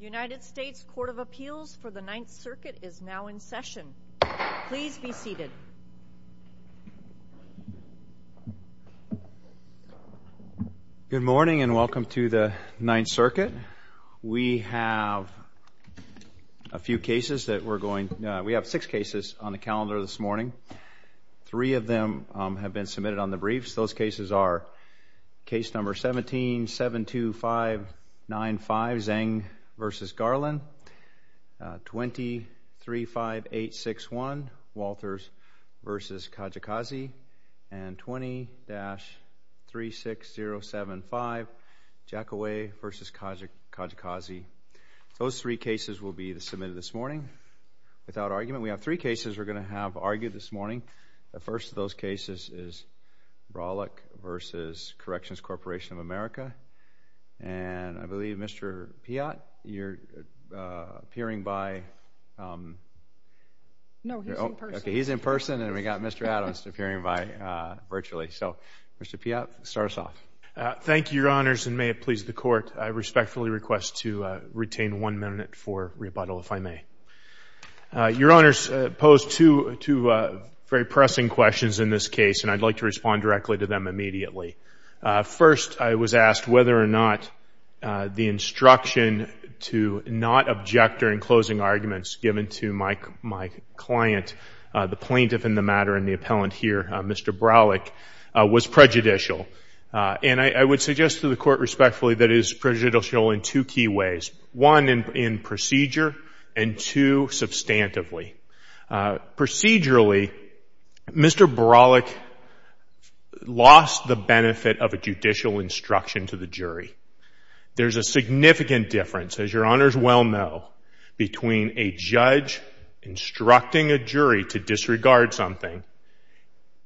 United States Court of Appeals for the Ninth Circuit is now in session. Please be seated. Good morning and welcome to the Ninth Circuit. We have a few cases that we're going, we have six cases on the calendar this morning. Three of them have been submitted on the briefs. Those cases are case number 17-72595, Zeng v. Garland, 20-35861, Walters v. Kajikazi, and 20-36075, Jackaway v. Kajikazi. Those three cases will be submitted this morning without argument. We have three cases we're going to have argued this morning. The first of those cases is Braulick v. Corrections Corporation of America. And I believe, Mr. Piott, you're appearing by? No, he's in person. Okay, he's in person and we've got Mr. Adams appearing by virtually. So, Mr. Piott, start us off. Thank you, Your Honors, and may it please the Court, I respectfully request to retain one minute for rebuttal, if I may. Your Honors, I pose two very pressing questions in this case, and I'd like to respond directly to them immediately. First, I was asked whether or not the instruction to not object during closing arguments given to my client, the plaintiff in the matter and the appellant here, Mr. Braulick, was prejudicial. And I would suggest to the Court respectfully that it is prejudicial in two key ways. One, in procedure, and two, substantively. Procedurally, Mr. Braulick lost the benefit of a judicial instruction to the jury. There's a significant difference, as Your Honors well know, between a judge instructing a jury to disregard something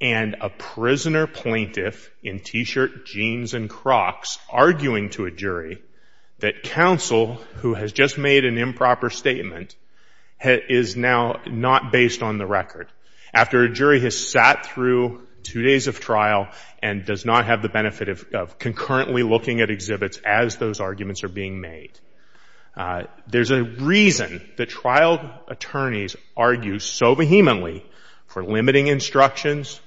and a prisoner plaintiff in t-shirt, jeans, and Crocs arguing to a jury that counsel, who has just made an improper statement, is now not based on the record. After a jury has sat through two days of trial and does not have the benefit of concurrently looking at exhibits as those arguments are being made. There's a reason that trial attorneys argue so vehemently for limiting instructions,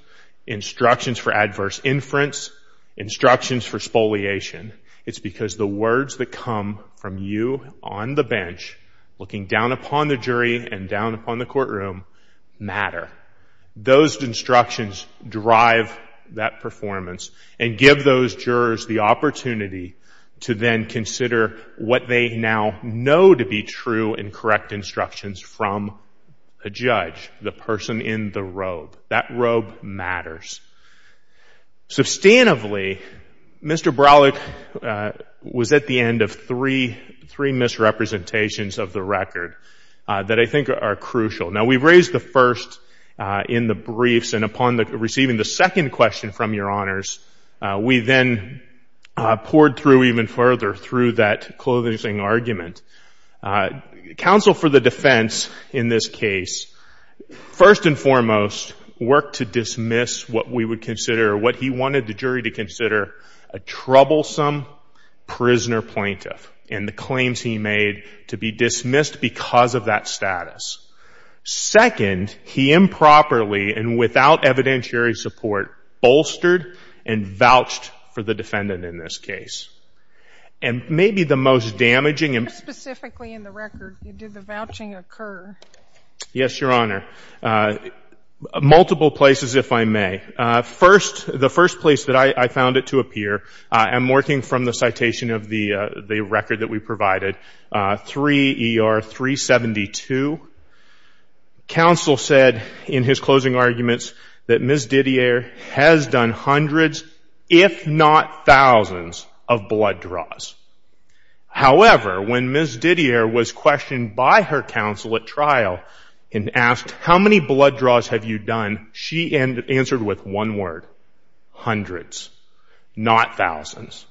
instructions for adverse inference, instructions for spoliation. It's because the words that come from you on the bench, looking down upon the jury and down upon the courtroom, matter. Those instructions drive that performance and give those jurors the opportunity to then consider what they now know to be true and judge the person in the robe. That robe matters. Substantively, Mr. Braulick was at the end of three misrepresentations of the record that I think are crucial. Now, we've raised the first in the briefs, and upon receiving the second question from Your Honors, we then poured through even further through that closing argument. Counsel for the defense in this case, first and foremost, worked to dismiss what we would consider, what he wanted the jury to consider, a troublesome prisoner plaintiff and the claims he made to be dismissed because of that status. Second, he improperly and without evidentiary support bolstered and vouched for the defendant in this case. And maybe the most damaging and You were specifically in the record. Did the vouching occur? Yes, Your Honor. Multiple places, if I may. First, the first place that I found it to appear, I'm working from the citation of the record that we provided, 3 ER 372. Counsel said in his closing arguments that Ms. Didier has done hundreds, if not thousands, of blood draws. However, when Ms. Didier was questioned by her counsel at trial and asked, how many blood draws have you done? She answered with one word, hundreds, not thousands.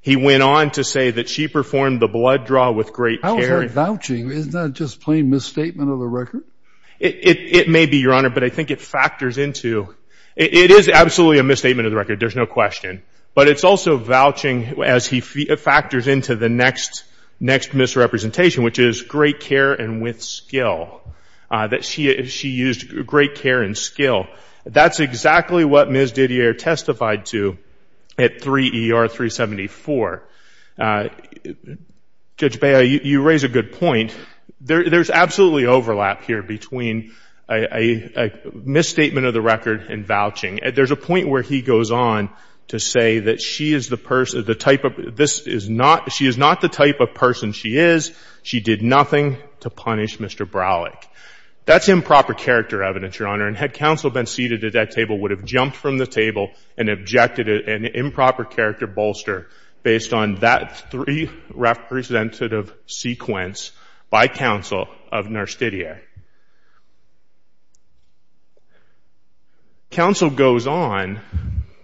He went on to say that she performed the blood draw with great care. How is that vouching? Isn't that just plain misstatement of the record? It may be, Your Honor, but I think it factors into, it is absolutely a misstatement of the record. Vouching, as he factors into the next misrepresentation, which is great care and with skill, that she used great care and skill. That's exactly what Ms. Didier testified to at 3 ER 374. Judge Bea, you raise a good point. There's absolutely overlap here between a misstatement of the record and vouching. There's a point where he goes on to say that she is the person, the type of, she is not the type of person she is. She did nothing to punish Mr. Browlick. That's improper character evidence, Your Honor, and had counsel been seated at that table, would have jumped from the table and objected an improper character bolster based on that three representative sequence by counsel of Nurse Didier. Counsel goes on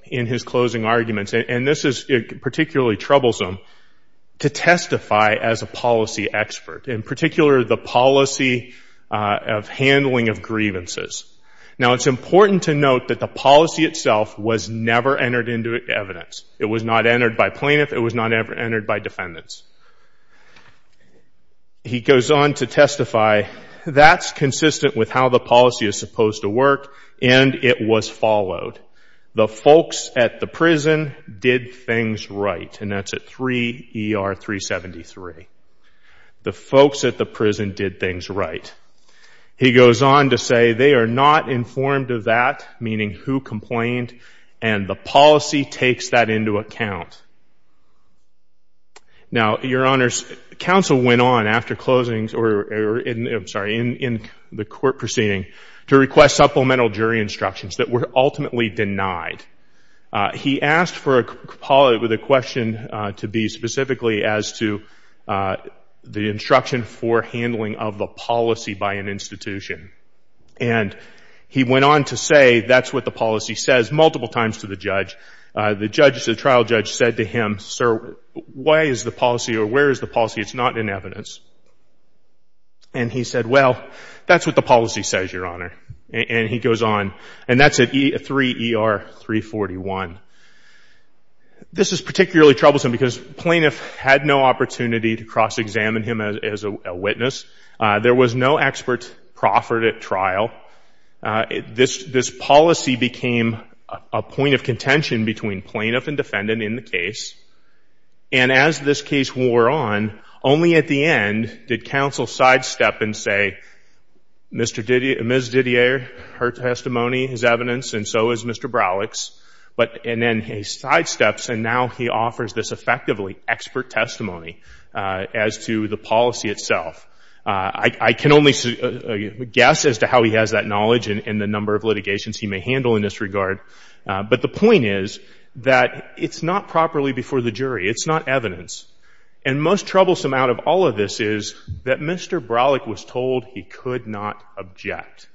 in his closing arguments, and this is particularly troublesome, to testify as a policy expert, in particular, the policy of handling of grievances. Now, it's important to note that the policy itself was never entered into evidence. It was not entered by plaintiff. It was not ever entered by defendants. He goes on to testify, that's consistent with how the policy is supposed to work, and it was followed. The folks at the prison did things right, and that's at 3 ER 373. The folks at the prison did things right. He goes on to say they are not informed of that, meaning who complained, and the policy takes that into account. Now, Your Honors, counsel went on after closings, or I'm sorry, in the court proceeding to request supplemental jury instructions that were ultimately denied. He asked for the question to be specifically as to the instruction for handling of the policy by an institution, and he went on to say that's what the policy says multiple times to the trial judge, said to him, sir, why is the policy, or where is the policy? It's not in evidence, and he said, well, that's what the policy says, Your Honor, and he goes on, and that's at 3 ER 341. This is particularly troublesome because plaintiff had no opportunity to cross examine him as a witness. There was no expert proffered at trial. This policy became a point of contention between plaintiff and defendant in the case, and as this case wore on, only at the end did counsel sidestep and say, Ms. Didier, her testimony, his evidence, and so is Mr. Browlix, and then he sidesteps, and now he offers this effectively expert testimony as to the policy itself. I can only guess as to how he has that knowledge and the number of litigations he may handle in this regard, but the point is that it's not properly before the jury. It's not evidence, and most troublesome out of all of this is that Mr. Browlix was told he could not object,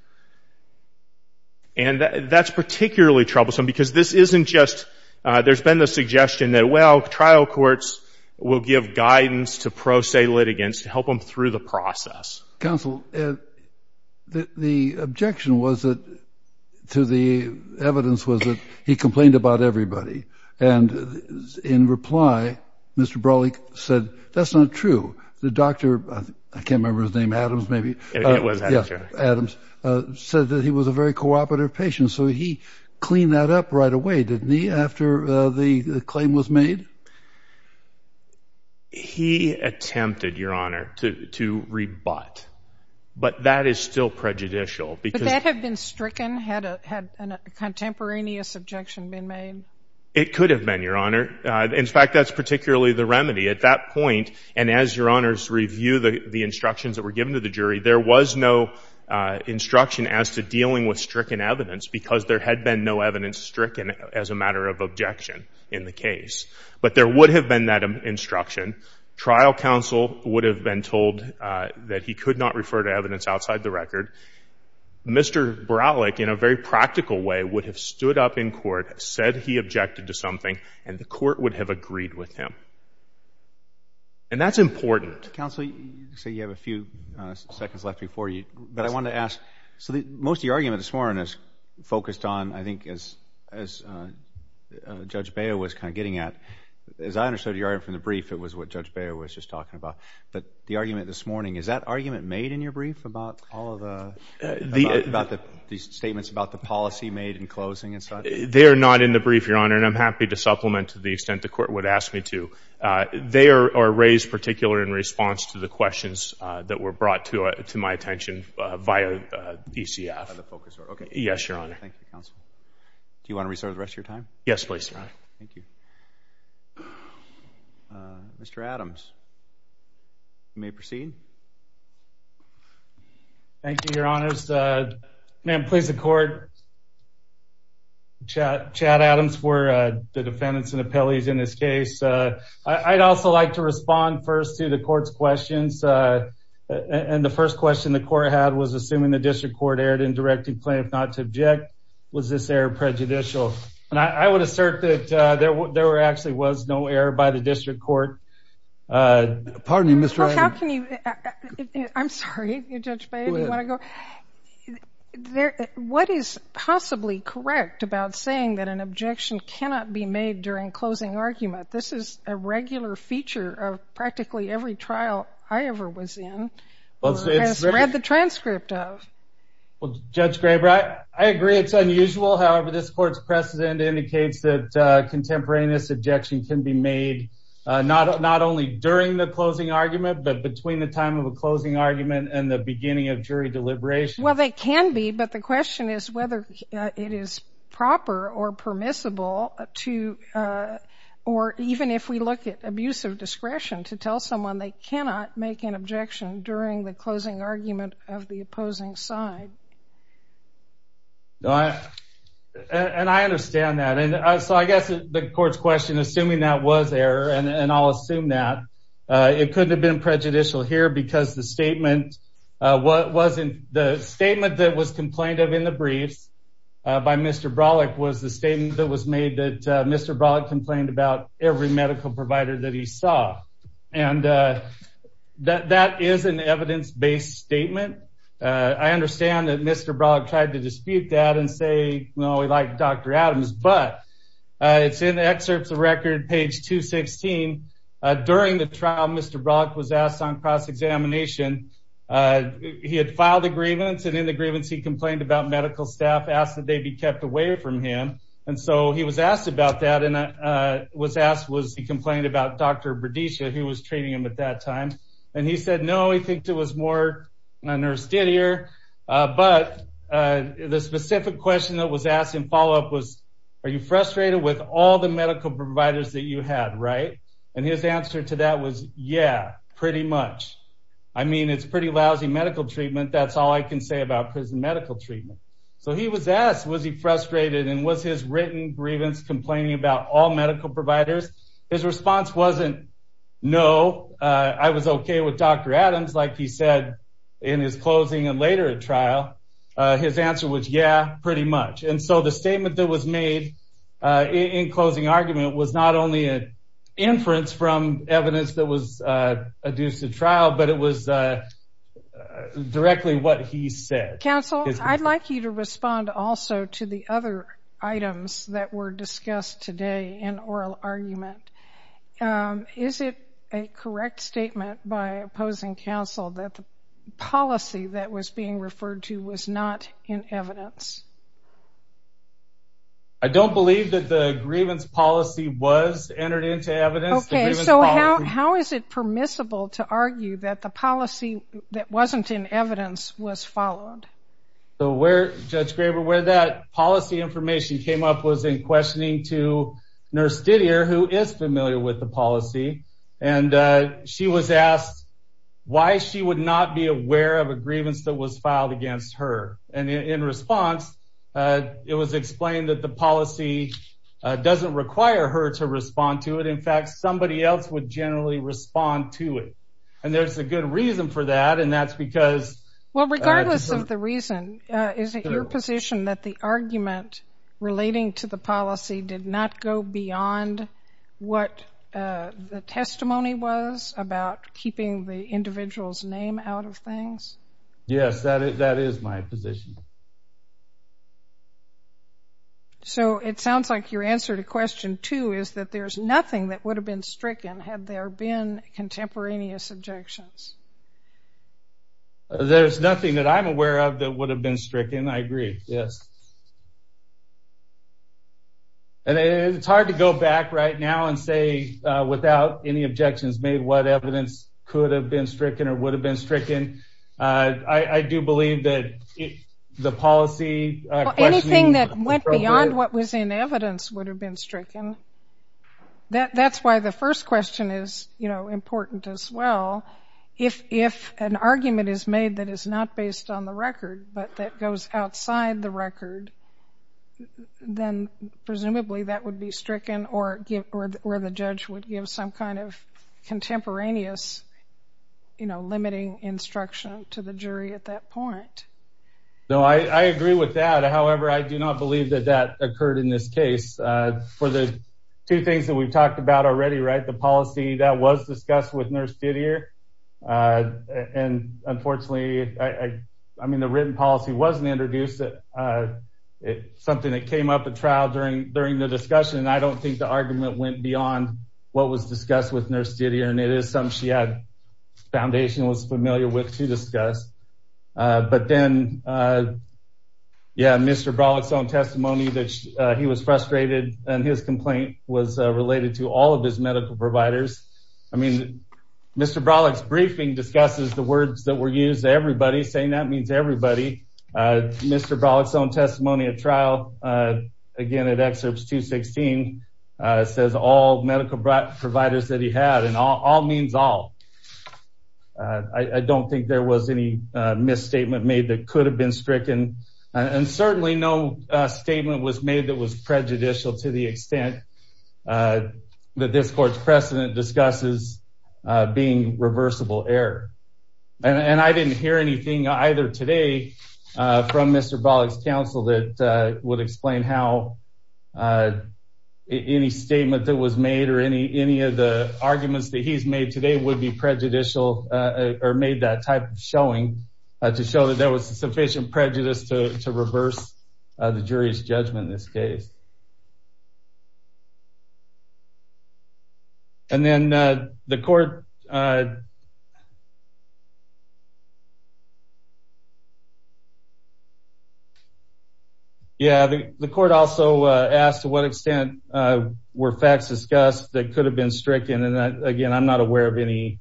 and that's particularly troublesome because this isn't just there's been the suggestion that, well, trial courts will give guidance to pro se litigants to help them through the process. Counsel, the objection was that to the evidence was that he complained about everybody, and in reply, Mr. Browlix said, that's not true. The doctor, I can't remember his name, Adams said that he was a very cooperative patient, so he cleaned that up right away, didn't he, after the claim was made? He attempted, Your Honor, to rebut, but that is still prejudicial because But that had been stricken? Had a contemporaneous objection been made? It could have been, Your Honor. In fact, that's particularly the remedy. At that point, and as Your Honors review the instructions that were given to the jury, there was no instruction as to dealing with stricken evidence because there had been no evidence stricken as a matter of objection in the case, but there would have been that instruction. Trial counsel would have been told that he could not refer to evidence outside the record. Mr. Browlix, in a very practical way, would have stood up in court, said he objected to something, and the court would have agreed with him, and that's important. Counsel, you say you have a few seconds left before you, but I wanted to ask, so most of the argument this morning is focused on, I think, as Judge Baio was kind of getting at, as I understood your argument from the brief, it was what Judge Baio was just talking about, but the argument this morning, is that argument made in your brief about all of the statements about the policy made in closing and such? They're not in the brief, Your Honor, and I'm happy to supplement to the extent the court would ask me to. They are raised particularly in response to the questions that were brought to my attention via DCF. Yes, Your Honor. Thank you, Counsel. Do you want to restart the rest of your time? Yes, please, Your Honor. Thank you. Mr. Adams, you may proceed. Thank you, Your Honors. May I please the court chat Adams for the defendants and appellees in this case? I'd also like to respond first to the court's questions, and the first question the court had was, assuming the district court erred in directing plaintiff not to object, was this error prejudicial? And I would assert that there actually was no error by the district court. Pardon me, Mr. Adams. I'm sorry, Judge Baio, do you want to go? What is possibly correct about saying that an objection cannot be made during closing argument? This is a regular feature of practically every trial I ever was in or read the transcript of. Well, Judge Graber, I agree it's unusual. However, this court's precedent indicates that contemporaneous objection can be made not only during the closing argument but between the time of a closing argument and the beginning of jury deliberation. Well, they can be, but the question is whether it is proper or permissible to, or even if we look at abusive discretion, to tell someone they cannot make an objection during the closing argument of the opposing side. And I understand that. So I guess the court's question, assuming that was error, and I'll The statement that was complained of in the briefs by Mr. Brawleck was the statement that was made that Mr. Brawleck complained about every medical provider that he saw. And that is an evidence-based statement. I understand that Mr. Brawleck tried to dispute that and say, well, we like Dr. Adams, but it's in the excerpts of record, page 216. During the He had filed a grievance. And in the grievance, he complained about medical staff asked that they be kept away from him. And so he was asked about that and was asked, was he complained about Dr. Bredisha, who was treating him at that time? And he said, no, he thinks it was more a nurse did here. But the specific question that was asked in follow-up was, are you frustrated with all the medical providers that you had, right? And his answer to that was, yeah, pretty much. I mean, it's pretty lousy medical treatment. That's all I can say about prison medical treatment. So he was asked, was he frustrated and was his written grievance complaining about all medical providers? His response wasn't, no, I was okay with Dr. Adams, like he said, in his closing and later at trial, his answer was, yeah, pretty much. And so the statement that was it was directly what he said. Counsel, I'd like you to respond also to the other items that were discussed today in oral argument. Is it a correct statement by opposing counsel that the policy that was being referred to was not in evidence? I don't believe that the grievance policy was entered into evidence. Okay. So how, how is it permissible to argue that the policy that wasn't in evidence was followed? So where judge Graber, where that policy information came up was in questioning to nurse did here, who is familiar with the policy. And she was asked why she would not be aware of a grievance that was filed against her. And in response, it was explained that the In fact, somebody else would generally respond to it. And there's a good reason for that. And that's because, well, regardless of the reason, is it your position that the argument relating to the policy did not go beyond what the testimony was about keeping the individual's name out of things? Yes, that is my position. So it sounds like your answer to question two is that there's nothing that would have been stricken had there been contemporaneous objections. There's nothing that I'm aware of that would have been stricken. I agree. Yes. And it's hard to go back right now and say without any objections made what evidence could have been stricken or would have been stricken. I do believe that the policy... Anything that went beyond what was in evidence would have been stricken. That's why the first question is, you know, important as well. If an argument is made that is not based on the record, but that goes outside the record, then presumably that would be stricken or where the judge would give some kind of contemporaneous, you know, limiting instruction to the jury at that point. No, I agree with that. However, I do not believe that that occurred in this case. For the two things that we've talked about already, right, the policy that was discussed with Nurse Didier, and unfortunately, I mean, the written policy wasn't introduced, something that came up at trial during the discussion, and I don't think the argument went beyond what was discussed with Nurse Didier, and it is something she had been familiar with to discuss. But then, yeah, Mr. Brawleck's own testimony that he was frustrated and his complaint was related to all of his medical providers. I mean, Mr. Brawleck's briefing discusses the words that were used, everybody saying that means everybody. Mr. Brawleck's own testimony at trial, again, at excerpts 216, says all medical providers that he had, and all means all. I don't think there was any misstatement made that could have been stricken, and certainly no statement was made that was prejudicial to the extent that this court's precedent discusses being reversible error. And I didn't hear anything either today from Mr. Brawleck's counsel that would explain how any statement that was made or any of the arguments that he's made today would be prejudicial or made that type of showing to show that there was sufficient prejudice to reverse the jury's judgment in this case. And then the court... Yeah, the court also asked to what extent were facts discussed that could have been stricken, again, I'm not aware of anything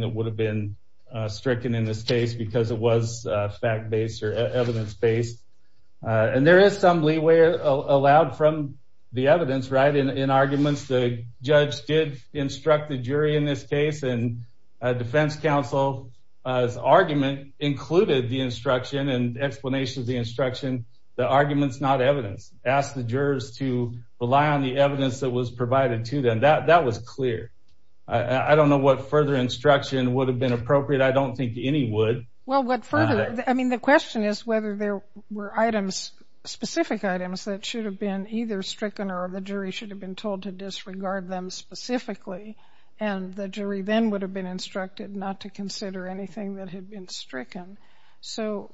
that would have been stricken in this case because it was fact-based or evidence-based. And there is some leeway allowed from the evidence, right? In arguments, the judge did instruct the jury in this case, and defense counsel's argument included the instruction and explanation of the instruction, the argument's not evidence. Asked the jurors to that, that was clear. I don't know what further instruction would have been appropriate, I don't think any would. Well, what further... I mean, the question is whether there were items, specific items that should have been either stricken or the jury should have been told to disregard them specifically, and the jury then would have been instructed not to consider anything that had been stricken. So,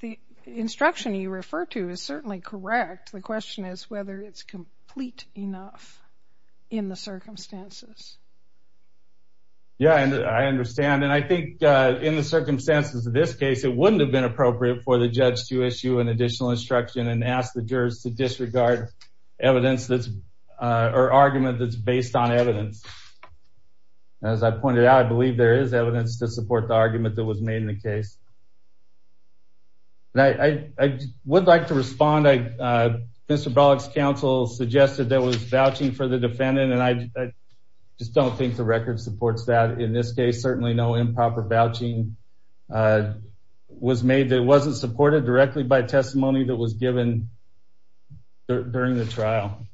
the instruction you refer to is certainly correct, the question is whether it's complete enough in the circumstances. Yeah, I understand, and I think in the circumstances of this case, it wouldn't have been appropriate for the judge to issue an additional instruction and ask the jurors to disregard evidence that's, or argument that's based on evidence. As I pointed out, I believe there is evidence to support the argument that was made in the case. And I would like to respond, Mr. Bollock's counsel suggested there was vouching for the defendant, and I just don't think the record supports that. In this case, certainly no improper vouching was made, it wasn't supported directly by testimony that was given during the trial.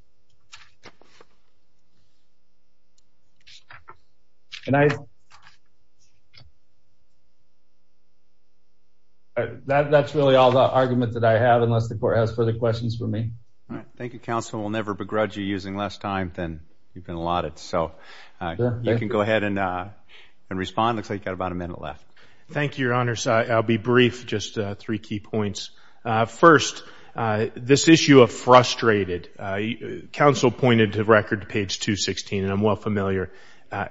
And I, that's really all the argument that I have unless the court has further questions for me. Thank you, counsel, we'll never begrudge you using less time than you've been allotted. So, you can go ahead and respond, looks like you've got about a minute left. Thank you, your honors, I'll be brief, just three key points. First, this issue of frustrated, counsel pointed to record page 216, and I'm well familiar.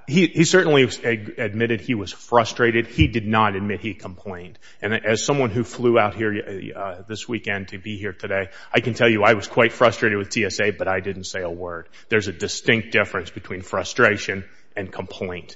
He certainly admitted he was frustrated, he did not admit he complained. And as someone who flew out here this weekend to be here today, I can tell you I was quite frustrated with TSA, but I didn't say a word. There's a distinct difference between frustration and complaint.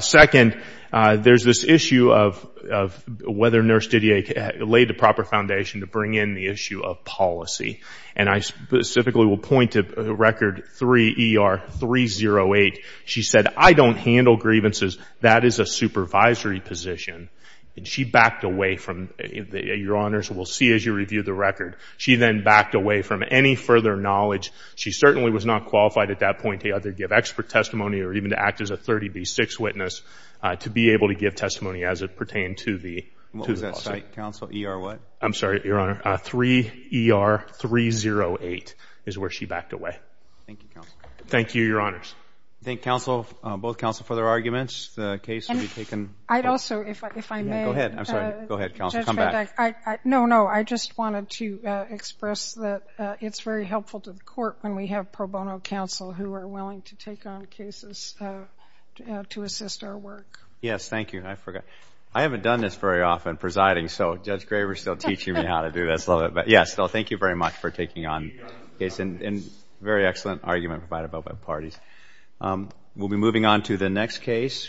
Second, there's this issue of whether Nurse Didier laid the proper foundation to bring in the issue of policy. And I specifically will point to record 3ER308. She said, I don't handle grievances, that is a supervisory position. And she backed away from, your honors, we'll see as you review the record. She then backed away from any further knowledge. She certainly was not qualified at that point to either give expert testimony or even to act as a 30B6 witness to be able to give testimony as it pertained to the policy. What was that site, counsel? ER what? I'm sorry, your honor, 3ER308 is where she backed away. Thank you, counsel. Thank you, your honors. I thank counsel, both counsel, for their arguments. The case will be taken. I'd also, if I may. Go ahead. I'm sorry. Go ahead, counsel. Come back. No, no. I just wanted to express that it's very helpful to the court when we have pro bono counsel who are willing to take on cases to assist our work. Yes, thank you. I forgot. I haven't done this very often presiding, so Judge Graver's still teaching me how to do this. But yes, so thank you very much for taking on this very excellent argument provided by both parties. We'll be moving on to the next case.